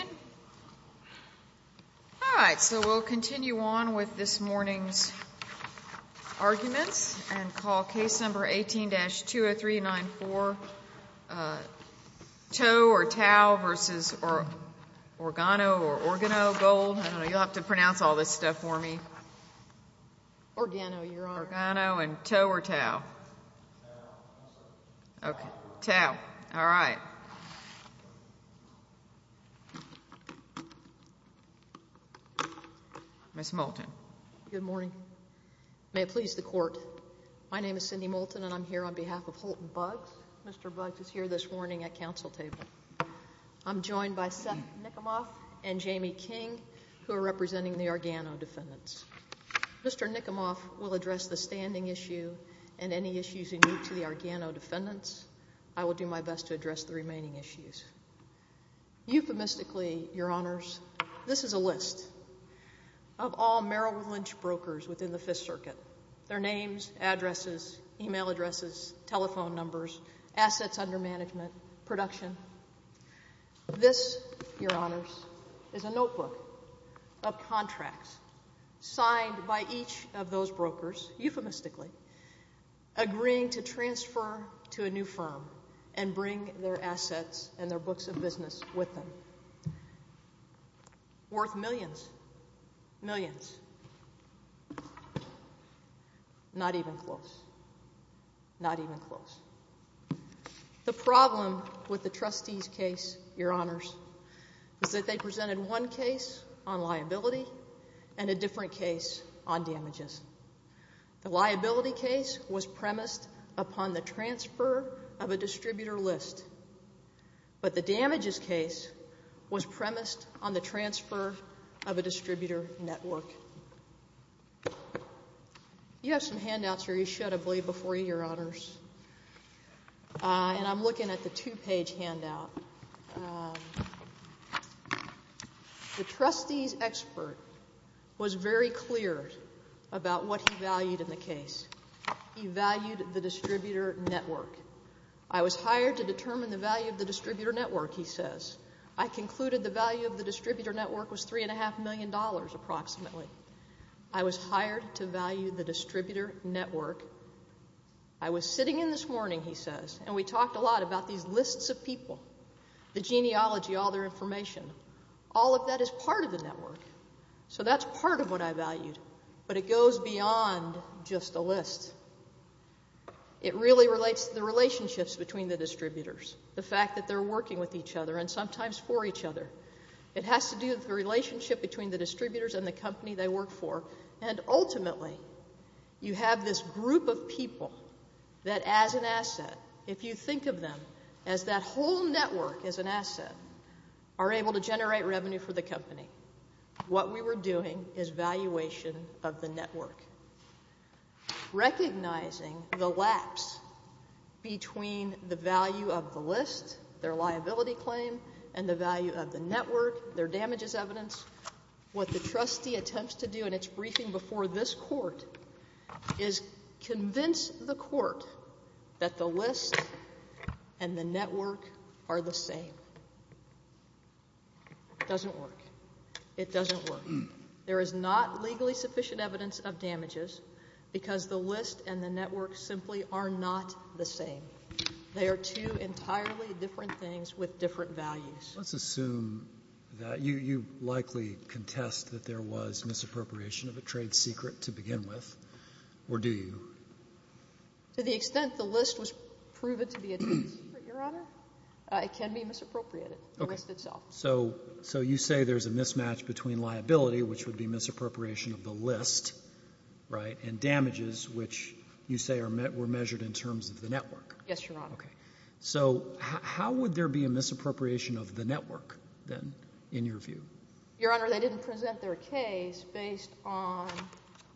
All right, so we'll continue on with this morning's arguments and call case number 18-20394, Tow v. Organo Gold. Ms. Moulton. Good morning. May it please the Court, my name is Cindy Moulton and I'm here on behalf of Holton Buggs. Mr. Buggs is here this morning at Council table. I'm joined by Seth Nikomoff and Jamie King, who are representing the Organo defendants. Mr. Nikomoff will address the standing issue and any issues unique to the Organo defendants. I will do my best to address the remaining issues. Euphemistically, Your Honors, this is a list of all Merrill Lynch brokers within the Fifth Circuit. Their names, addresses, email addresses, telephone numbers, assets under management, production. This, Your Honors, is a notebook of contracts signed by each of those brokers, euphemistically, agreeing to transfer to a new firm and bring their assets and their books of business with them. Worth millions. Millions. Not even close. Not even close. The problem with the trustees' case, Your Honors, is that they presented one case on liability and a different case on damages. The liability case was premised upon the transfer of a distributor list, but the damages case was premised on the transfer of a distributor network. You have some handouts here, you should, I believe, before you, Your Honors. And I'm looking at the two-page handout. The trustees' expert was very clear about what he valued in the case. He valued the distributor network. I was hired to determine the value of the distributor network, he says. I concluded the value of the distributor network was $3.5 million approximately. I was hired to value the distributor network. I was sitting in this morning, he says, and we talked a lot about these lists of people, the genealogy, all their information. All of that is part of the network. So that's part of what I valued, but it goes beyond just a list. It really relates to the relationships between the distributors, the fact that they're working with each other and sometimes for each other. It has to do with the relationship between the distributors and the company they work for. And ultimately you have this group of people that as an asset, if you think of them as that whole network as an asset, are able to generate revenue for the company. What we were doing is valuation of the network. Recognizing the lapse between the value of the list, their liability claim, and the value of the network, their damages evidence, what the trustee attempts to do in its briefing before this court is convince the court that the list and the network are the same. It doesn't work. It doesn't work. There is not legally sufficient evidence of damages because the list and the network simply are not the same. They are two entirely different things with different values. Let's assume that you likely contest that there was misappropriation of a trade secret to begin with, or do you? To the extent the list was proven to be a trade secret, Your Honor, it can be misappropriated, the list itself. Okay. So you say there's a mismatch between liability, which would be misappropriation of the list, right, and damages, which you say were measured in terms of the network. Yes, Your Honor. Okay. So how would there be a misappropriation of the network then in your view? Your Honor, they didn't present their case based on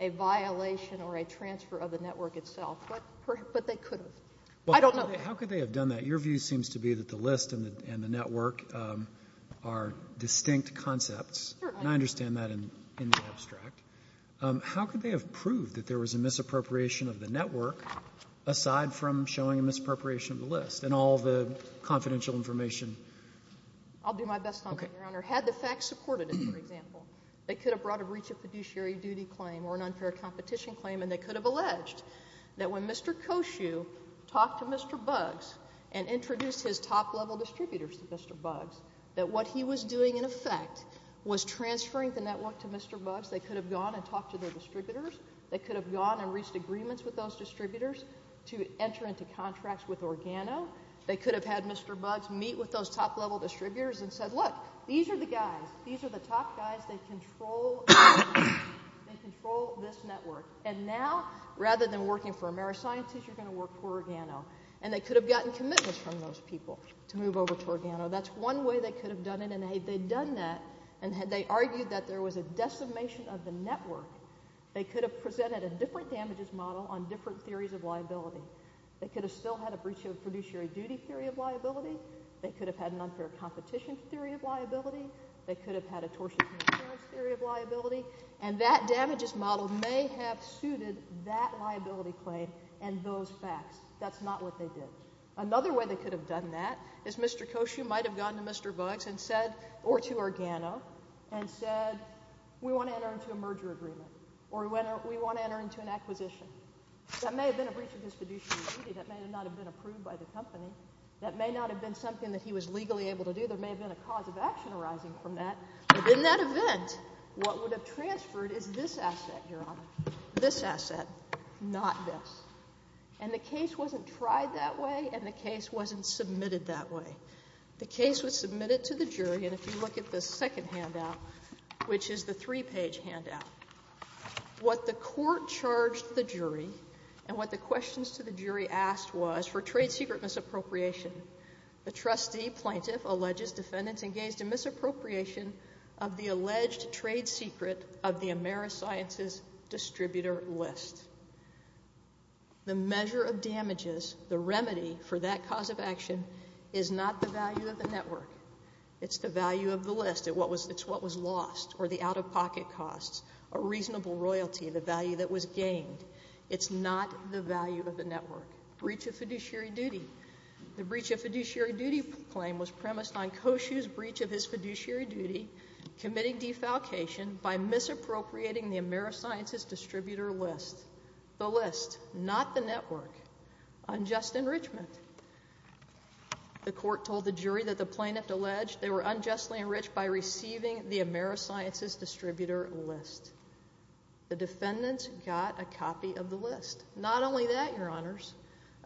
a violation or a transfer of the network itself, but they could have. I don't know. How could they have done that? Your view seems to be that the list and the network are distinct concepts. Certainly. And I understand that in the abstract. How could they have proved that there was a misappropriation of the network aside from showing a misappropriation of the list and all the confidential information? I'll do my best, Your Honor. Had the facts supported it, for example, they could have brought a breach of fiduciary duty claim or an unfair competition claim, and they could have alleged that when Mr. Koshue talked to Mr. Buggs and introduced his top-level distributors to Mr. Buggs, that what he was doing in effect was transferring the network to Mr. Buggs. They could have gone and talked to their distributors. They could have gone and reached agreements with those distributors to enter into contracts with Organo. They could have had Mr. Buggs meet with those top-level distributors and said, Look, these are the guys. These are the top guys. They control this network. And now, rather than working for AmeriSciences, you're going to work for Organo. And they could have gotten commitments from those people to move over to Organo. That's one way they could have done it. And if they had done that and they argued that there was a decimation of the network, they could have presented a different damages model on different theories of liability. They could have still had a breach of fiduciary duty theory of liability. They could have had an unfair competition theory of liability. They could have had a tortious insurance theory of liability. And that damages model may have suited that liability claim and those facts. That's not what they did. Another way they could have done that is Mr. Koshue might have gone to Mr. Buggs or to Organo and said, We want to enter into a merger agreement, or we want to enter into an acquisition. That may have been a breach of fiduciary duty. That may not have been approved by the company. That may not have been something that he was legally able to do. There may have been a cause of action arising from that. But in that event, what would have transferred is this asset, Your Honor, this asset, not this. And the case wasn't tried that way, and the case wasn't submitted that way. The case was submitted to the jury, and if you look at the second handout, which is the three-page handout, what the court charged the jury and what the questions to the jury asked was for trade secret misappropriation. The trustee plaintiff alleges defendants engaged in misappropriation of the alleged trade secret of the Amerisciences distributor list. The measure of damages, the remedy for that cause of action, is not the value of the network. It's the value of the list. It's what was lost or the out-of-pocket costs, a reasonable royalty, the value that was gained. It's not the value of the network. Breach of fiduciary duty. The breach of fiduciary duty claim was premised on Koshue's breach of his fiduciary duty, committing defalcation by misappropriating the Amerisciences distributor list. The list, not the network. Unjust enrichment. The court told the jury that the plaintiff alleged they were unjustly enriched by receiving the Amerisciences distributor list. The defendants got a copy of the list. Not only that, Your Honors,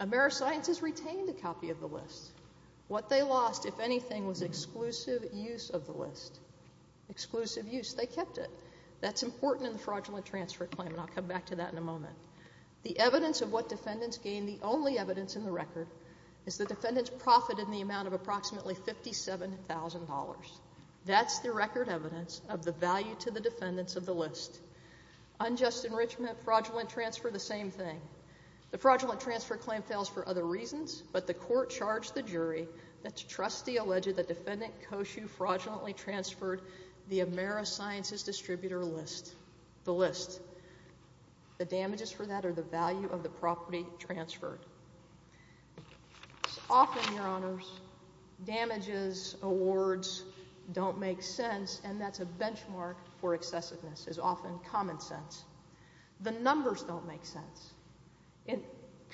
Amerisciences retained a copy of the list. What they lost, if anything, was exclusive use of the list. Exclusive use. They kept it. That's important in the fraudulent transfer claim, and I'll come back to that in a moment. The evidence of what defendants gained, the only evidence in the record, is the defendants profited in the amount of approximately $57,000. That's the record evidence of the value to the defendants of the list. Unjust enrichment, fraudulent transfer, the same thing. The fraudulent transfer claim fails for other reasons, but the court charged the jury that trustee alleged that defendant Koshue fraudulently transferred the Amerisciences distributor list. The list. The damages for that are the value of the property transferred. Often, Your Honors, damages, awards, don't make sense, and that's a benchmark for excessiveness. It's often common sense. The numbers don't make sense.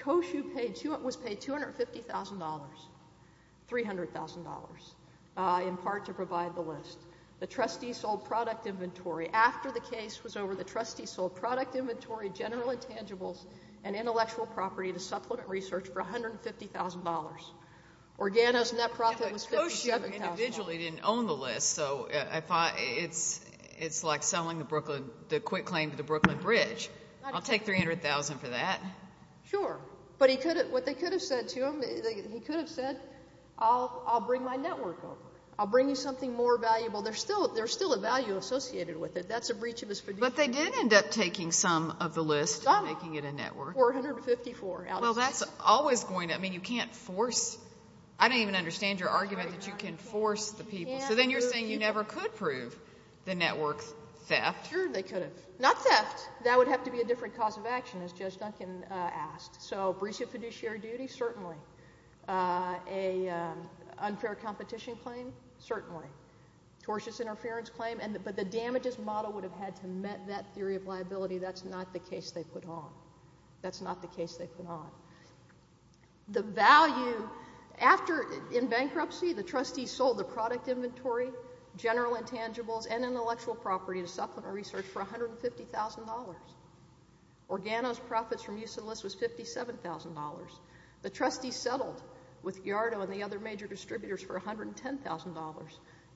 Koshue was paid $250,000, $300,000, in part to provide the list. The trustee sold product inventory. After the case was over, the trustee sold product inventory, general intangibles, and intellectual property to Supplement Research for $150,000. He individually didn't own the list, so I thought it's like selling the Brooklyn, the quick claim to the Brooklyn Bridge. I'll take $300,000 for that. Sure. But what they could have said to him, he could have said, I'll bring my network over. I'll bring you something more valuable. There's still a value associated with it. That's a breach of his fiduciary. But they did end up taking some of the list and making it a network. $454,000 out of it. Well, that's always going to – I mean, you can't force – I don't even understand your argument that you can force the people. So then you're saying you never could prove the network's theft. Sure, they could have. Not theft. That would have to be a different cause of action, as Judge Duncan asked. So breach of fiduciary duty, certainly. An unfair competition claim, certainly. Tortious interference claim. But the damages model would have had to have met that theory of liability. That's not the case they put on. The value – in bankruptcy, the trustees sold the product inventory, general intangibles, and intellectual property to Supplement Research for $150,000. Organo's profits from use of the list was $57,000. The trustees settled with Giardo and the other major distributors for $110,000.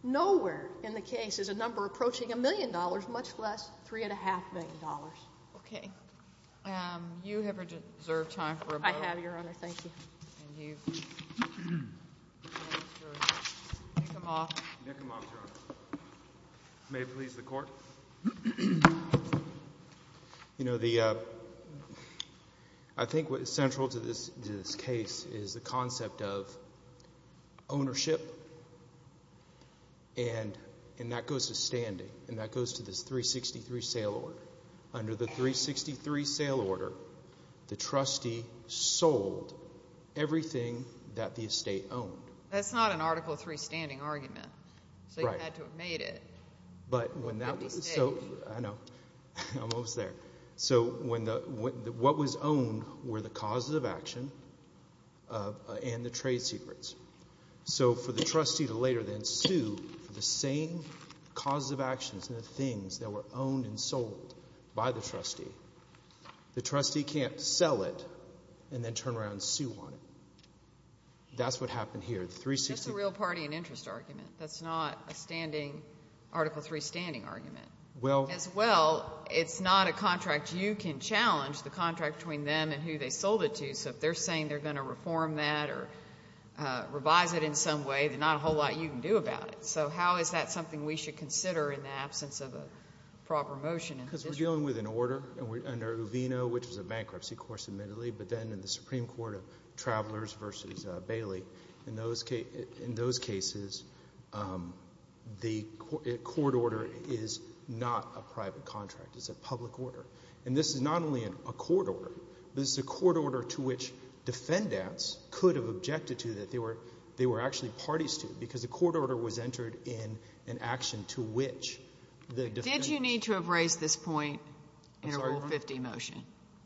Nowhere in the case is a number approaching $1 million, much less $3.5 million. Okay. You have reserved time for a vote. I have, Your Honor. Thank you. And you've registered. Nickham off. Nickham off, Your Honor. May it please the Court. You know, the – I think what is central to this case is the concept of ownership. And that goes to standing, and that goes to this 363 sale order. Under the 363 sale order, the trustee sold everything that the estate owned. That's not an Article III standing argument. Right. So you had to have made it. But when that was – so – I know. Almost there. So when the – what was owned were the causes of action and the trade secrets. So for the trustee to later then sue for the same causes of actions and the things that were owned and sold by the trustee, the trustee can't sell it and then turn around and sue on it. That's what happened here. The 363 – That's a real party and interest argument. That's not a standing – Article III standing argument. Well – As well, it's not a contract you can challenge, the contract between them and who they sold it to. So if they're saying they're going to reform that or revise it in some way, there's not a whole lot you can do about it. So how is that something we should consider in the absence of a proper motion? Because we're dealing with an order under Uvino, which was a bankruptcy, of course, admittedly, but then in the Supreme Court of Travelers v. Bailey. In those cases, the court order is not a private contract. It's a public order. And this is not only a court order. This is a court order to which defendants could have objected to that they were actually parties to because the court order was entered in an action to which the defendants – Did you need to have raised this point in a Rule 50 motion?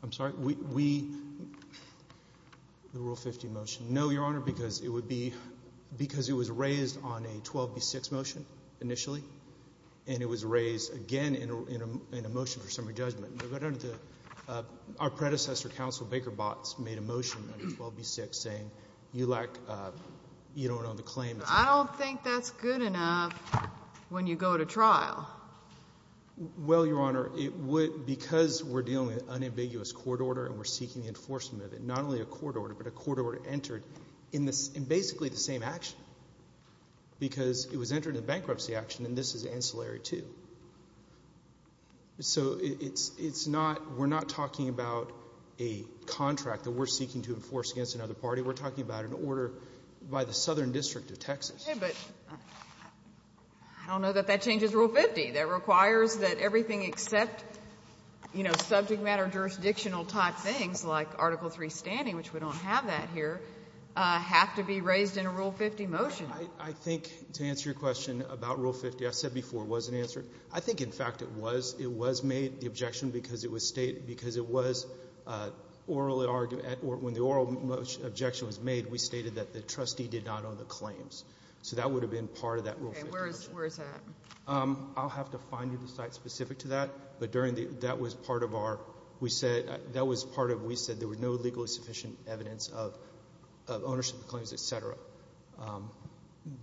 I'm sorry? We – the Rule 50 motion. No, Your Honor, because it would be – because it was raised on a 12B6 motion initially, and it was raised again in a motion for summary judgment. Our predecessor counsel, Baker Botts, made a motion under 12B6 saying you lack – you don't own the claim. I don't think that's good enough when you go to trial. Well, Your Honor, because we're dealing with an unambiguous court order and we're seeking enforcement of it, not only a court order, but a court order entered in basically the same action because it was entered in a bankruptcy action, and this is ancillary too. So it's not – we're not talking about a contract that we're seeking to enforce against another party. We're talking about an order by the Southern District of Texas. Okay, but I don't know that that changes Rule 50. That requires that everything except, you know, subject matter jurisdictional type things like Article III standing, which we don't have that here, have to be raised in a Rule 50 motion. I think to answer your question about Rule 50, I said before it wasn't answered. I think, in fact, it was made, the objection, because it was stated – because it was orally argued – when the oral objection was made, we stated that the trustee did not own the claims. So that would have been part of that Rule 50 motion. Okay, where is that? I'll have to find you the site specific to that, but during the – that was part of our –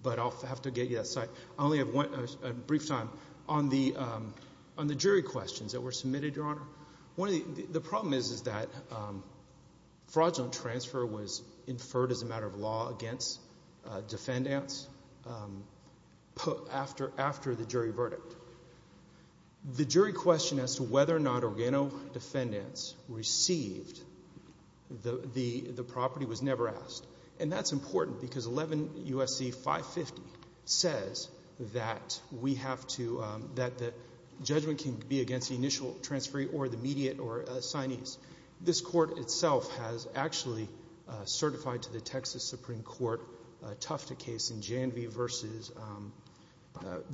but I'll have to get you that site. I only have a brief time. On the jury questions that were submitted, Your Honor, the problem is that fraudulent transfer was inferred as a matter of law against defendants after the jury verdict. The jury question as to whether or not organo defendants received the property was never asked. And that's important because 11 U.S.C. 550 says that we have to – that the judgment can be against the initial transferee or the mediate or signee. This Court itself has actually certified to the Texas Supreme Court a Tufta case in Janvey v.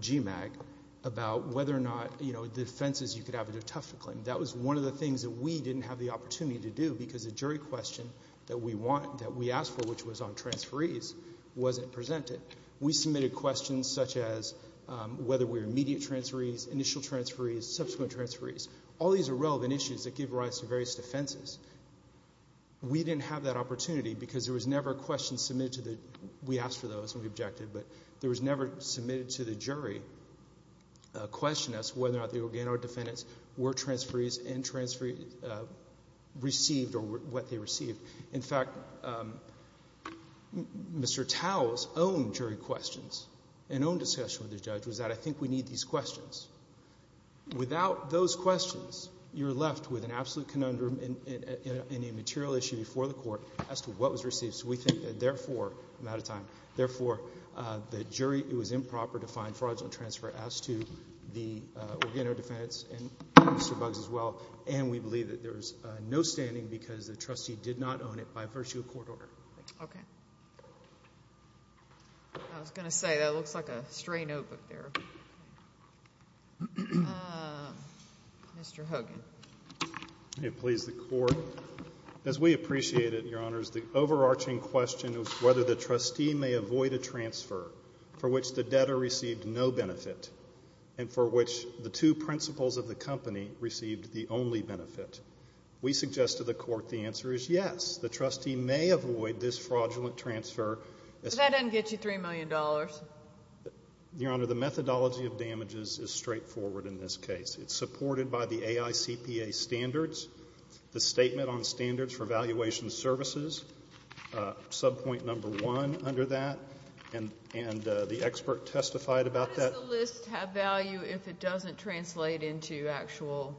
GMAG about whether or not, you know, defenses you could have a Tufta claim. That was one of the things that we didn't have the opportunity to do because the jury question that we asked for, which was on transferees, wasn't presented. We submitted questions such as whether we were mediate transferees, initial transferees, subsequent transferees. All these are relevant issues that give rise to various defenses. We didn't have that opportunity because there was never a question submitted to the – we asked for those and we objected, but there was never submitted to the jury a question as to whether or not the organo defendants were transferees and transferred – received or what they received. In fact, Mr. Tao's own jury questions and own discussion with the judge was that, I think we need these questions. Without those questions, you're left with an absolute conundrum and a material issue before the Court as to what was received. Mr. Buggs as well, and we believe that there is no standing because the trustee did not own it by virtue of court order. Okay. I was going to say that looks like a stray notebook there. Mr. Hogan. May it please the Court. As we appreciate it, Your Honors, the overarching question of whether the trustee may avoid a transfer for which the debtor received no benefit and for which the two principals of the company received the only benefit, we suggest to the Court the answer is yes, the trustee may avoid this fraudulent transfer. But that doesn't get you $3 million. Your Honor, the methodology of damages is straightforward in this case. It's supported by the AICPA standards, the Statement on Standards for Valuation Services, subpoint number one under that, and the expert testified about that. Does the list have value if it doesn't translate into actual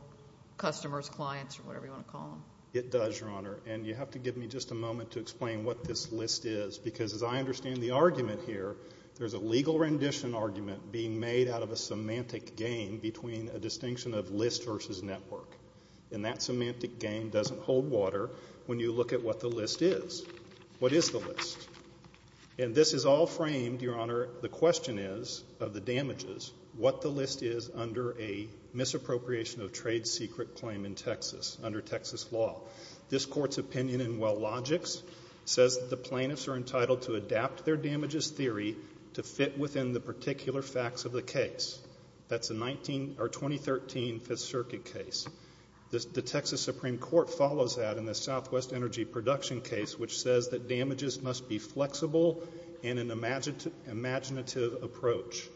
customers, clients, or whatever you want to call them? It does, Your Honor, and you have to give me just a moment to explain what this list is because as I understand the argument here, there's a legal rendition argument being made out of a semantic game between a distinction of list versus network. And that semantic game doesn't hold water when you look at what the list is. What is the list? And this is all framed, Your Honor, the question is of the damages, what the list is under a misappropriation of trade secret claim in Texas under Texas law. This Court's opinion in Wellogix says that the plaintiffs are entitled to adapt their damages theory to fit within the particular facts of the case. That's a 2013 Fifth Circuit case. The Texas Supreme Court follows that in the Southwest Energy Production case, which says that damages must be flexible and an imaginative approach.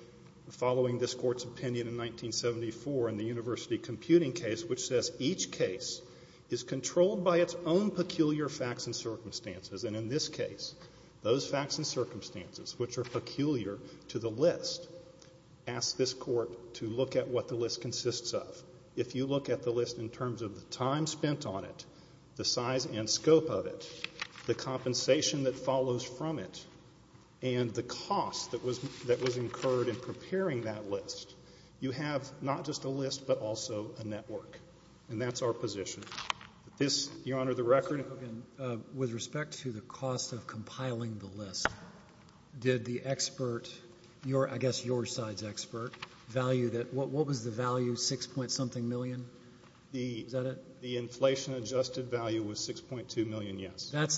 Following this Court's opinion in 1974 in the University Computing case, which says each case is controlled by its own peculiar facts and circumstances. And in this case, those facts and circumstances, which are peculiar to the list, ask this Court to look at what the list consists of. If you look at the list in terms of the time spent on it, the size and scope of it, the compensation that follows from it, and the cost that was incurred in preparing that list, you have not just a list but also a network. And that's our position. This, Your Honor, the record. Mr. Hogan, with respect to the cost of compiling the list, did the expert, I guess your side's expert, value that? What was the value, $6.something million? Is that it? The inflation adjusted value was $6.2 million, yes. That's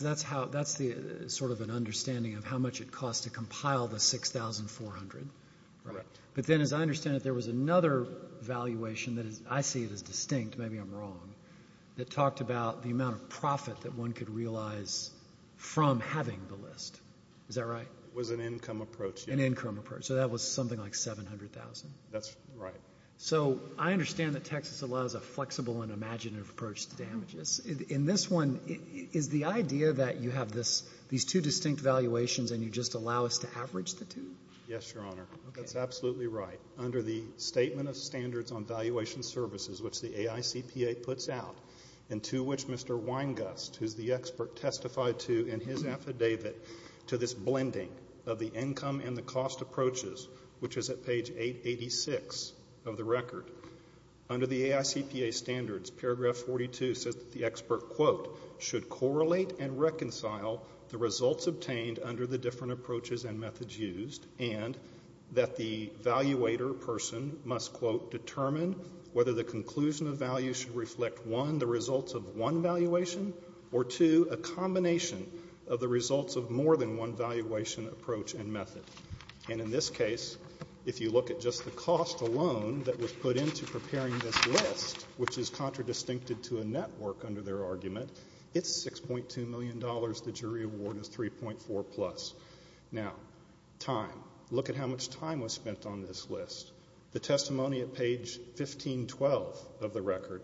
sort of an understanding of how much it cost to compile the $6,400. Correct. But then as I understand it, there was another valuation that is, I see it as distinct, maybe I'm wrong, that talked about the amount of profit that one could realize from having the list. Is that right? It was an income approach. An income approach. So that was something like $700,000. That's right. So I understand that Texas allows a flexible and imaginative approach to damages. In this one, is the idea that you have these two distinct valuations and you just allow us to average the two? Yes, Your Honor. That's absolutely right. Under the Statement of Standards on Valuation Services, which the AICPA puts out, and to which Mr. Weingast, who's the expert, testified to in his affidavit to this blending of the income and the cost approaches, which is at page 886 of the record. Under the AICPA standards, paragraph 42 says that the expert, quote, should correlate and reconcile the results obtained under the different approaches and methods used and that the evaluator person must, quote, determine whether the conclusion of value should reflect, one, the results of one valuation, or two, a combination of the results of more than one valuation approach and method. And in this case, if you look at just the cost alone that was put into preparing this list, which is contradistincted to a network under their argument, it's $6.2 million. The jury award is 3.4 plus. Now, time. Look at how much time was spent on this list. The testimony at page 1512 of the record,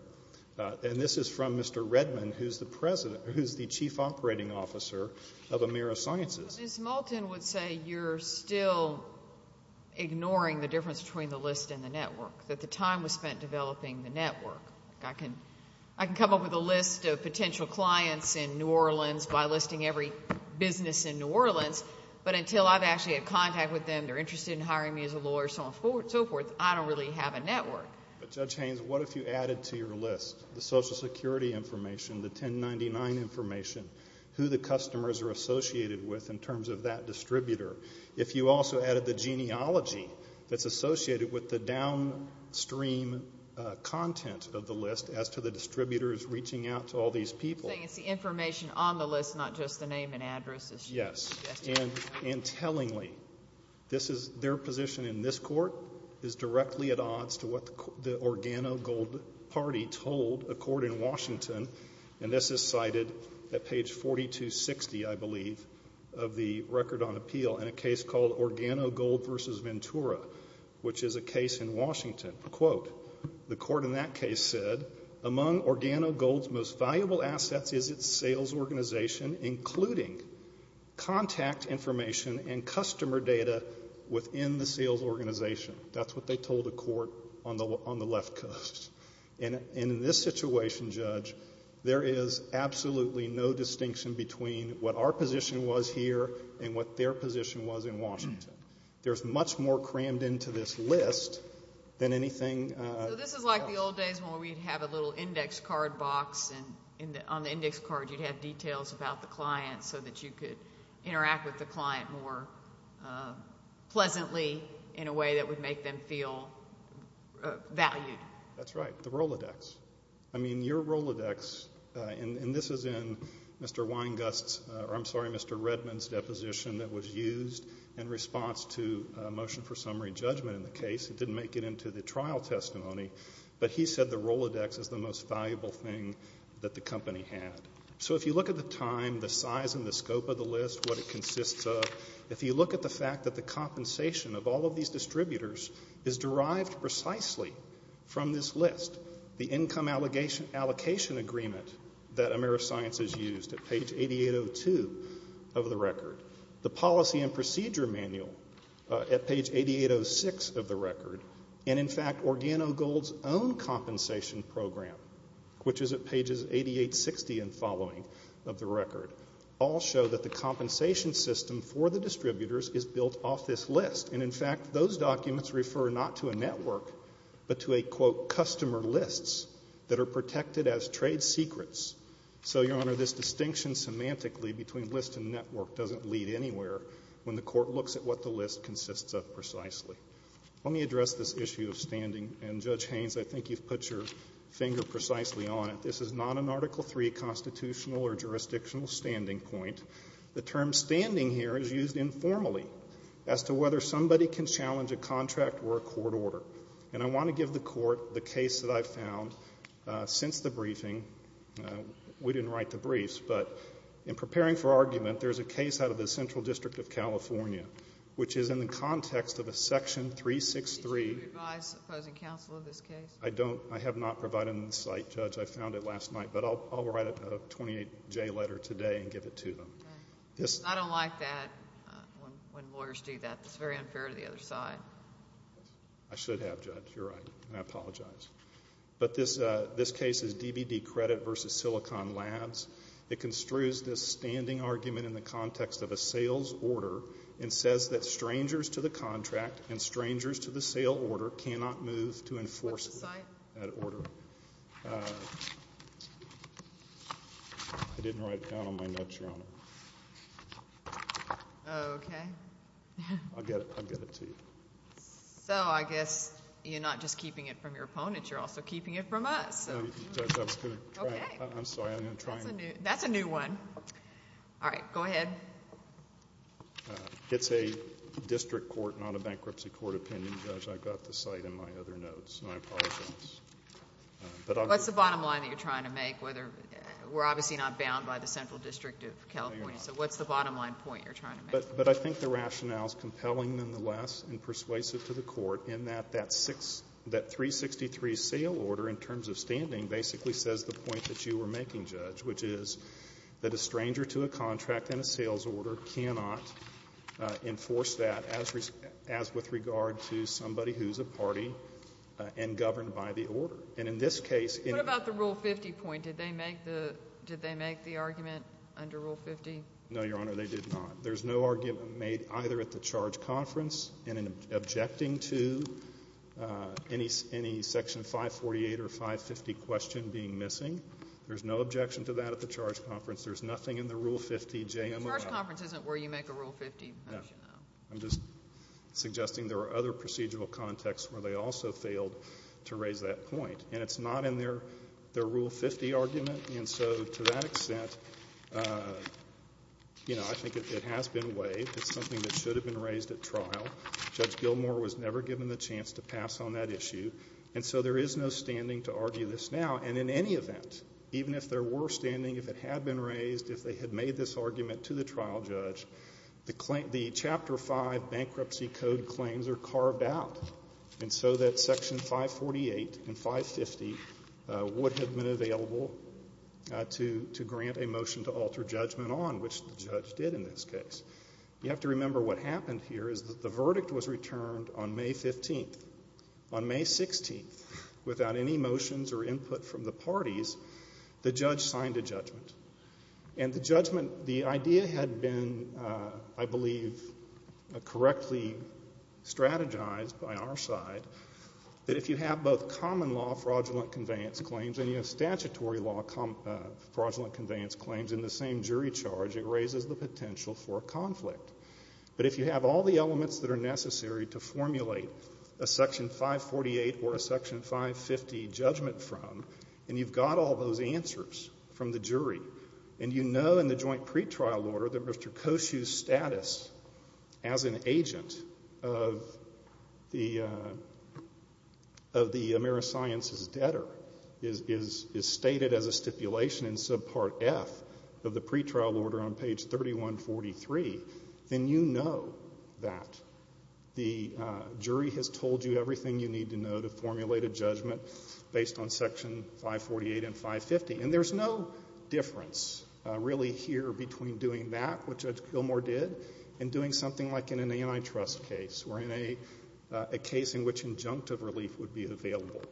and this is from Mr. Redman, who's the chief operating officer of Amira Sciences. Ms. Moulton would say you're still ignoring the difference between the list and the network, that the time was spent developing the network. by listing every business in New Orleans, but until I've actually had contact with them, they're interested in hiring me as a lawyer, so on and so forth, I don't really have a network. But, Judge Haynes, what if you added to your list the Social Security information, the 1099 information, who the customers are associated with in terms of that distributor? If you also added the genealogy that's associated with the downstream content of the list as to the distributors reaching out to all these people. So you're saying it's the information on the list, not just the name and address. Yes, and tellingly, their position in this court is directly at odds to what the Organo Gold Party told a court in Washington, and this is cited at page 4260, I believe, of the record on appeal in a case called Organo Gold v. Ventura, which is a case in Washington. The court in that case said, among Organo Gold's most valuable assets is its sales organization, including contact information and customer data within the sales organization. That's what they told a court on the left coast. And in this situation, Judge, there is absolutely no distinction between what our position was here and what their position was in Washington. There's much more crammed into this list than anything else. So this is like the old days when we'd have a little index card box, and on the index card you'd have details about the client so that you could interact with the client more pleasantly in a way that would make them feel valued. That's right, the Rolodex. I mean, your Rolodex, and this is in Mr. Weingast's, or I'm sorry, Mr. Redman's deposition that was used in response to a motion for summary judgment in the case. It didn't make it into the trial testimony, but he said the Rolodex is the most valuable thing that the company had. So if you look at the time, the size, and the scope of the list, what it consists of, if you look at the fact that the compensation of all of these distributors is derived precisely from this list, the income allocation agreement that AmeriScience has used at page 8802 of the record, the policy and procedure manual at page 8806 of the record, and in fact OrganoGold's own compensation program, which is at pages 8860 and following of the record, all show that the compensation system for the distributors is built off this list. And in fact, those documents refer not to a network, but to a, quote, customer lists that are protected as trade secrets. So, your Honor, this distinction semantically between list and network doesn't lead anywhere when the court looks at what the list consists of precisely. Let me address this issue of standing. And, Judge Haynes, I think you've put your finger precisely on it. This is not an Article III constitutional or jurisdictional standing point. The term standing here is used informally as to whether somebody can challenge a contract or a court order. And I want to give the court the case that I've found since the briefing. We didn't write the briefs, but in preparing for argument, there's a case out of the Central District of California, which is in the context of a Section 363. Did you revise the opposing counsel of this case? I don't. I have not provided it in sight, Judge. I found it last night, but I'll write a 28-J letter today and give it to them. I don't like that when lawyers do that. It's very unfair to the other side. I should have, Judge. You're right, and I apologize. But this case is DBD Credit v. Silicon Labs. It construes this standing argument in the context of a sales order and says that strangers to the contract and strangers to the sale order cannot move to enforce that order. What's the site? I didn't write it down on my notes, Your Honor. Okay. I'll get it to you. So I guess you're not just keeping it from your opponent. You're also keeping it from us. I'm sorry. I'm going to try again. That's a new one. All right. Go ahead. It's a district court, not a bankruptcy court opinion, Judge. I've got the site in my other notes, and I apologize. What's the bottom line that you're trying to make? We're obviously not bound by the Central District of California. So what's the bottom line point you're trying to make? But I think the rationale is compelling, nonetheless, and persuasive to the court in that that 363 sale order, in terms of standing, basically says the point that you were making, Judge, which is that a stranger to a contract and a sales order cannot enforce that as with regard to somebody who's a party and governed by the order. And in this case ---- What about the Rule 50 point? Did they make the argument under Rule 50? No, Your Honor, they did not. There's no argument made either at the charge conference and in objecting to any Section 548 or 550 question being missing. There's no objection to that at the charge conference. There's nothing in the Rule 50. The charge conference isn't where you make a Rule 50. No. I'm just suggesting there are other procedural contexts where they also failed to raise that point. And it's not in their Rule 50 argument. And so to that extent, you know, I think it has been waived. It's something that should have been raised at trial. Judge Gilmour was never given the chance to pass on that issue. And so there is no standing to argue this now. And in any event, even if there were standing, if it had been raised, if they had made this argument to the trial judge, the Chapter 5 Bankruptcy Code claims are carved out. And so that Section 548 and 550 would have been available to grant a motion to alter judgment on, which the judge did in this case. You have to remember what happened here is that the verdict was returned on May 15th. On May 16th, without any motions or input from the parties, the judge signed a judgment. And the judgment, the idea had been, I believe, correctly strategized by our side, that if you have both common law fraudulent conveyance claims and you have statutory law fraudulent conveyance claims in the same jury charge, it raises the potential for conflict. But if you have all the elements that are necessary to formulate a Section 548 or a Section 550 judgment from, and you've got all those answers from the jury, and you know in the joint pretrial order that Mr. Koshue's status as an agent of the AmeriSciences debtor is stated as a stipulation in subpart F of the pretrial order on page 3143, then you know that the jury has told you everything you need to know to formulate a judgment based on Section 548 and 550. And there's no difference really here between doing that, which Judge Gilmour did, and doing something like in an antitrust case or in a case in which injunctive relief would be available.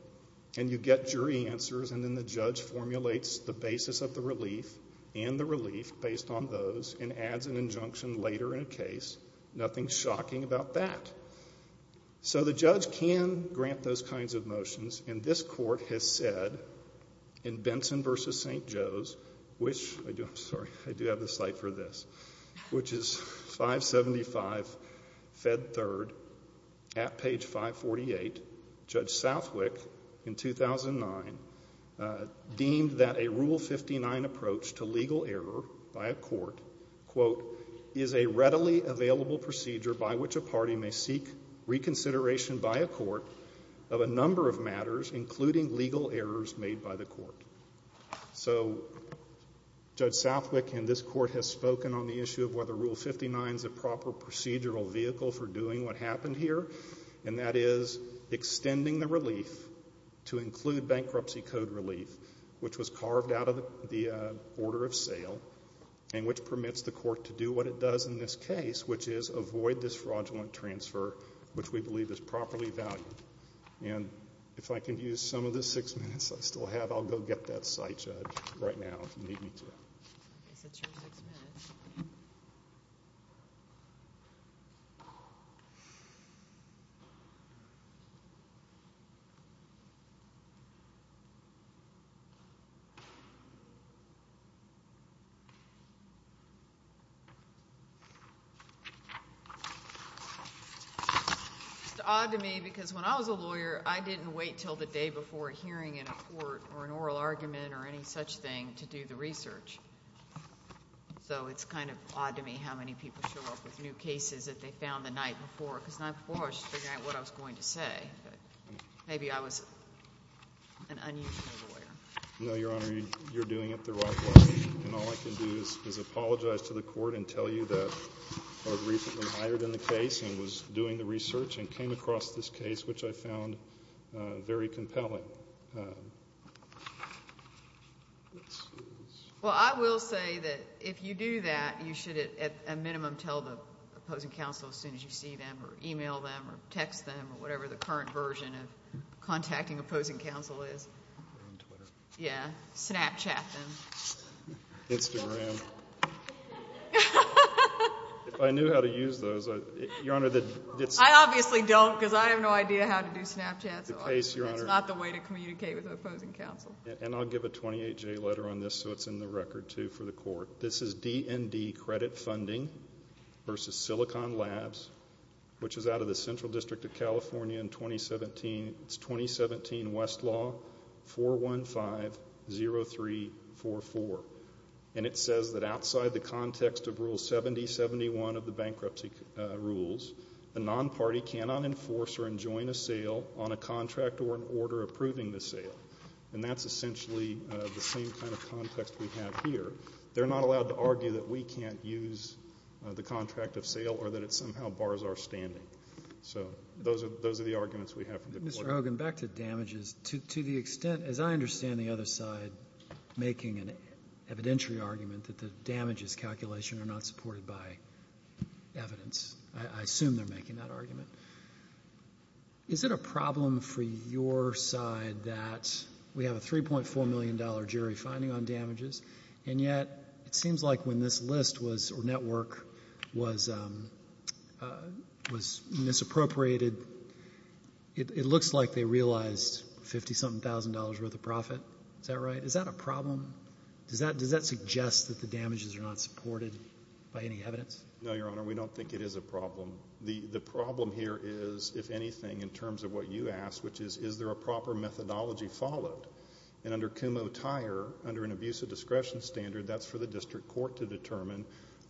And you get jury answers, and then the judge formulates the basis of the relief and the relief based on those and adds an injunction later in a case. Nothing shocking about that. So the judge can grant those kinds of motions, and this court has said in Benson v. St. Joe's, I'm sorry, I do have the slide for this, which is 575 Fed 3rd at page 548. Judge Southwick in 2009 deemed that a Rule 59 approach to legal error by a court, quote, is a readily available procedure by which a party may seek reconsideration by a court of a number of matters, including legal errors made by the court. So Judge Southwick and this court have spoken on the issue of whether Rule 59 is a proper procedural vehicle for doing what happened here, and that is extending the relief to include bankruptcy code relief, which was carved out of the order of sale and which permits the court to do what it does in this case, which is avoid this fraudulent transfer, which we believe is properly valued. And if I can use some of the six minutes I still have, I'll go get that site, Judge, right now if you need me to. Yes, it's your six minutes. It's odd to me because when I was a lawyer, I didn't wait until the day before a hearing in a court or an oral argument or any such thing to do the research. So it's kind of odd to me how many people show up with new cases that they found the night before, because the night before I was just figuring out what I was going to say. Maybe I was an unusual lawyer. No, Your Honor, you're doing it the right way. And all I can do is apologize to the court and tell you that I was recently hired in the case and was doing the research and came across this case, which I found very compelling. Well, I will say that if you do that, you should at a minimum tell the opposing counsel as soon as you see them or e-mail them or text them or whatever the current version of contacting opposing counsel is. On Twitter. Yeah. Snapchat them. Instagram. If I knew how to use those, Your Honor. I obviously don't because I have no idea how to do Snapchat. That's not the way to communicate with opposing counsel. And I'll give a 28-J letter on this so it's in the record, too, for the court. This is DND credit funding versus Silicon Labs, which is out of the Central District of California in 2017. It's 2017 Westlaw 415-0344. And it says that outside the context of Rule 7071 of the bankruptcy rules, the non-party cannot enforce or enjoin a sale on a contract or an order approving the sale. And that's essentially the same kind of context we have here. They're not allowed to argue that we can't use the contract of sale or that it somehow bars our standing. So those are the arguments we have from the court. Mr. Hogan, back to damages. To the extent, as I understand the other side, is making an evidentiary argument that the damages calculation are not supported by evidence. I assume they're making that argument. Is it a problem for your side that we have a $3.4 million jury finding on damages, and yet it seems like when this list or network was misappropriated, it looks like they realized $50-something thousand worth of profit. Is that right? Is that a problem? Does that suggest that the damages are not supported by any evidence? No, Your Honor. We don't think it is a problem. The problem here is, if anything, in terms of what you asked, which is, is there a proper methodology followed? And under CUMO-TIER, under an abuse of discretion standard, that's for the district court to determine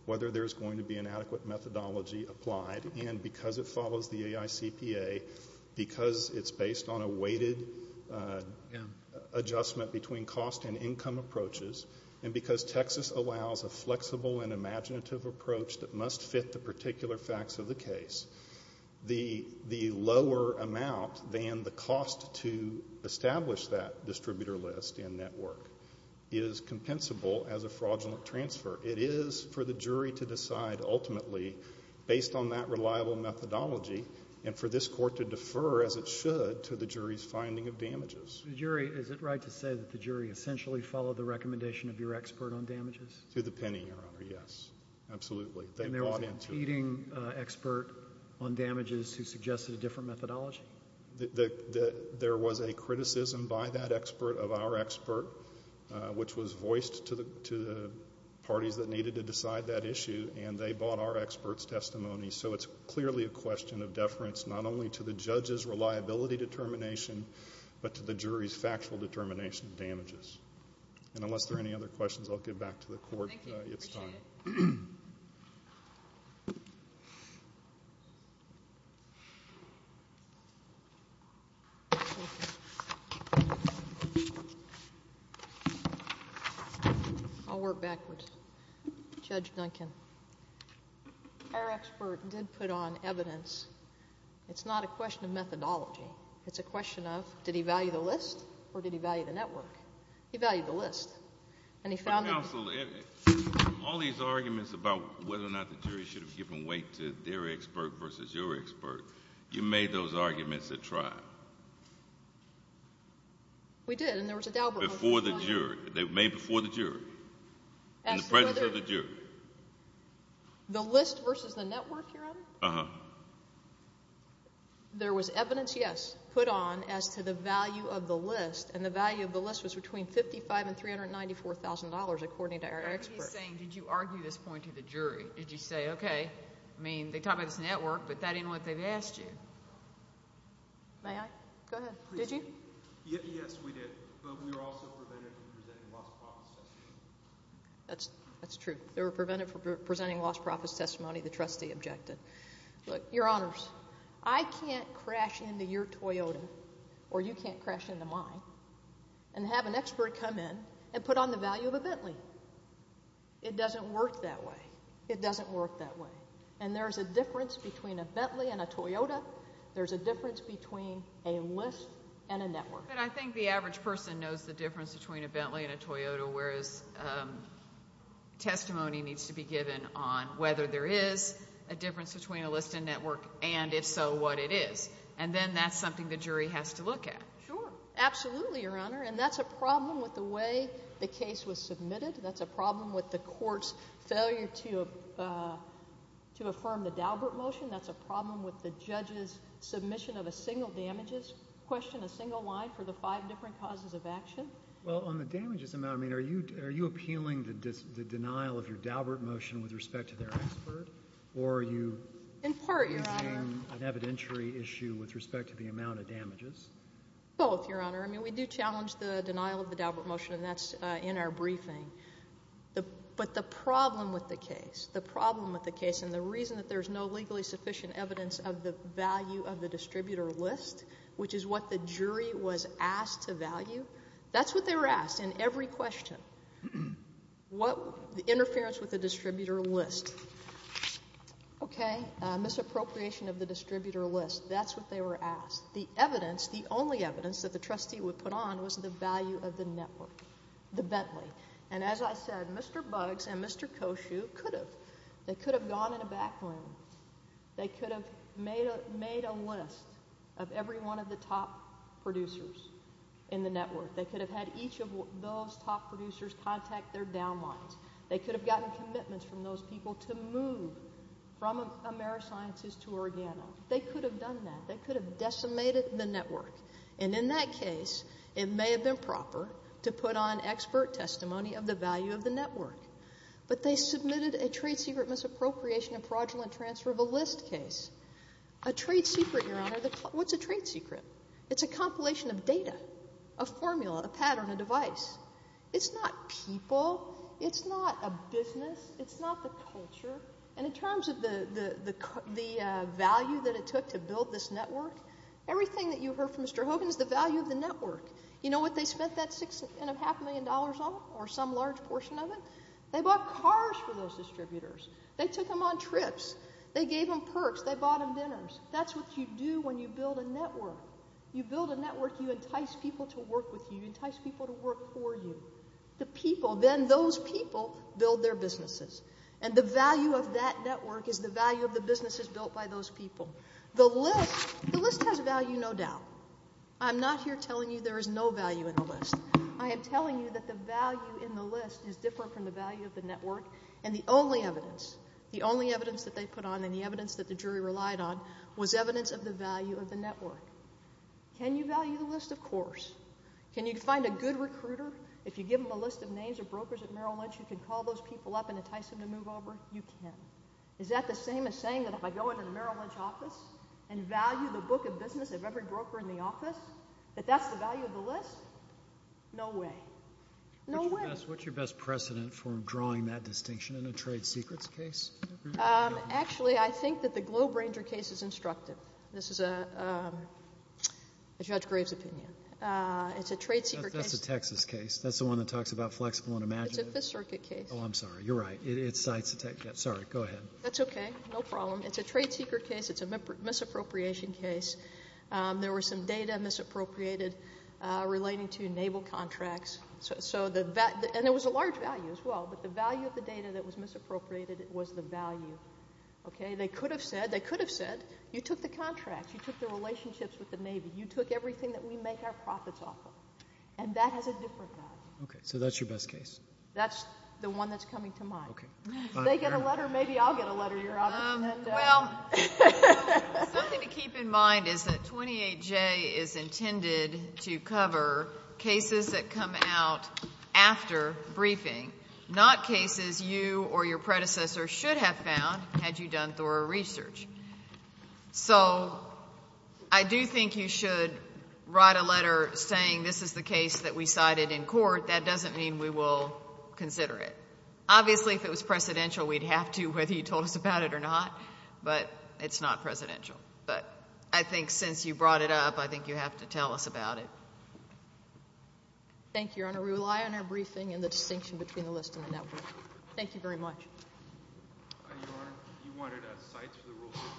whether there's going to be an adequate methodology applied. And because it follows the AICPA, because it's based on a weighted adjustment between cost and income approaches, and because Texas allows a flexible and imaginative approach that must fit the particular facts of the case, the lower amount than the cost to establish that distributor list and network is compensable as a fraudulent transfer. It is for the jury to decide ultimately, based on that reliable methodology, and for this court to defer as it should to the jury's finding of damages. The jury, is it right to say that the jury essentially followed the recommendation of your expert on damages? To the penny, Your Honor, yes. Absolutely. And there was a competing expert on damages who suggested a different methodology? There was a criticism by that expert of our expert, which was voiced to the parties that needed to decide that issue, and they bought our expert's testimony. So it's clearly a question of deference, not only to the judge's reliability determination, but to the jury's factual determination of damages. And unless there are any other questions, I'll give back to the court. Thank you. Appreciate it. I'll work backwards. Judge Duncan, our expert did put on evidence. It's not a question of methodology. It's a question of did he value the list, or did he value the network? He valued the list. And he found that... Counsel, all these arguments about whether or not the jury should have given weight to their expert versus your expert, you made those arguments at trial. We did, and there was a doubt... Before the jury. They were made before the jury, in the presence of the jury. The list versus the network, Your Honor? Uh-huh. There was evidence, yes, put on as to the value of the list, and the value of the list was between $55,000 and $394,000, according to our expert. I'm just saying, did you argue this point to the jury? Did you say, okay, I mean, they talked about this network, but that isn't what they've asked you. May I? Go ahead. Did you? Yes, we did. But we were also prevented from presenting lost profits testimony. That's true. They were prevented from presenting lost profits testimony. The trustee objected. Look, Your Honors, I can't crash into your Toyota, or you can't crash into mine, and have an expert come in and put on the value of a Bentley. It doesn't work that way. It doesn't work that way. And there's a difference between a Bentley and a Toyota. There's a difference between a list and a network. But I think the average person knows the difference between a Bentley and a Toyota, whereas testimony needs to be given on whether there is a difference between a list and network, and if so, what it is. And then that's something the jury has to look at. Sure. Absolutely, Your Honor. And that's a problem with the way the case was submitted. That's a problem with the court's failure to affirm the Daubert motion. That's a problem with the judge's submission of a single damages question, a single line for the five different causes of action. Well, on the damages amount, I mean, are you appealing the denial of your Daubert motion with respect to their expert, or are you using an evidentiary issue with respect to the amount of damages? Both, Your Honor. I mean, we do challenge the denial of the Daubert motion, and that's in our briefing. But the problem with the case, the problem with the case, and the reason that there's no legally sufficient evidence of the value of the distributor list, which is what the jury was asked to value, that's what they were asked in every question. Interference with the distributor list. Okay. Misappropriation of the distributor list. That's what they were asked. The evidence, the only evidence that the trustee would put on was the value of the network, the Bentley. And as I said, Mr. Buggs and Mr. Koshue could have. They could have gone in a back room. They could have made a list of every one of the top producers in the network. They could have had each of those top producers contact their downlines. They could have gotten commitments from those people to move from AmeriSciences to Organa. They could have done that. They could have decimated the network. And in that case, it may have been proper to put on expert testimony of the value of the network. But they submitted a trade secret misappropriation and fraudulent transfer of a list case. A trade secret, Your Honor. What's a trade secret? It's a compilation of data, a formula, a pattern, a device. It's not people. It's not a business. It's not the culture. And in terms of the value that it took to build this network, everything that you heard from Mr. Hogan is the value of the network. You know what they spent that six and a half million dollars on or some large portion of it? They bought cars for those distributors. They took them on trips. They gave them perks. They bought them dinners. That's what you do when you build a network. You build a network. You entice people to work with you. You entice people to work for you. The people, then those people, build their businesses. And the value of that network is the value of the businesses built by those people. The list has value, no doubt. I'm not here telling you there is no value in the list. I am telling you that the value in the list is different from the value of the network. And the only evidence, the only evidence that they put on and the evidence that the jury relied on was evidence of the value of the network. Can you value the list? Of course. Can you find a good recruiter? If you give them a list of names of brokers at Merrill Lynch, you can call those people up and entice them to move over? You can. Is that the same as saying that if I go into the Merrill Lynch office and value the book of business of every broker in the office, that that's the value of the list? No way. No way. What's your best precedent for drawing that distinction in a trade secrets case? Actually, I think that the Globe Ranger case is instructive. This is a Judge Graves' opinion. It's a trade secret case. That's a Texas case. That's the one that talks about flexible and imaginative. It's a Fifth Circuit case. Oh, I'm sorry. You're right. It cites the Texas case. Sorry. Go ahead. That's okay. No problem. It's a trade secret case. It's a misappropriation case. There was some data misappropriated relating to naval contracts. And it was a large value as well, but the value of the data that was misappropriated was the value. They could have said, you took the contracts. You took the relationships with the Navy. You took everything that we make our profits off of, and that has a different value. Okay. So that's your best case? That's the one that's coming to mind. Okay. Do they get a letter? Maybe I'll get a letter, Your Honor. Well, something to keep in mind is that 28J is intended to cover cases that come out after briefing, not cases you or your predecessor should have found had you done thorough research. So I do think you should write a letter saying this is the case that we cited in court. That doesn't mean we will consider it. Obviously, if it was precedential, we'd have to, whether you told us about it or not. But it's not precedential. But I think since you brought it up, I think you have to tell us about it. Thank you, Your Honor. We rely on our briefing and the distinction between the list and the network. Thank you very much. Your Honor, you wanted us to cite the rule 15.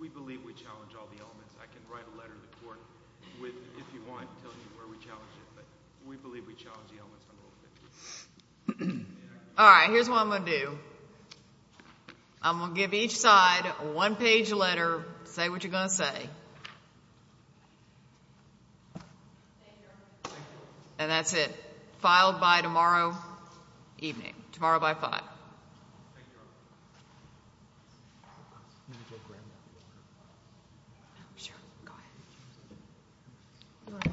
We believe we challenge all the elements. I can write a letter to the court with, if you want, telling you where we challenge it. But we believe we challenge the elements from Rule 15. All right. Here's what I'm going to do. I'm going to give each side a one-page letter. Say what you're going to say. Thank you, Your Honor. Thank you. And that's it. Filed by tomorrow evening, tomorrow by 5. Thank you, Your Honor. Thank you, Your Honor.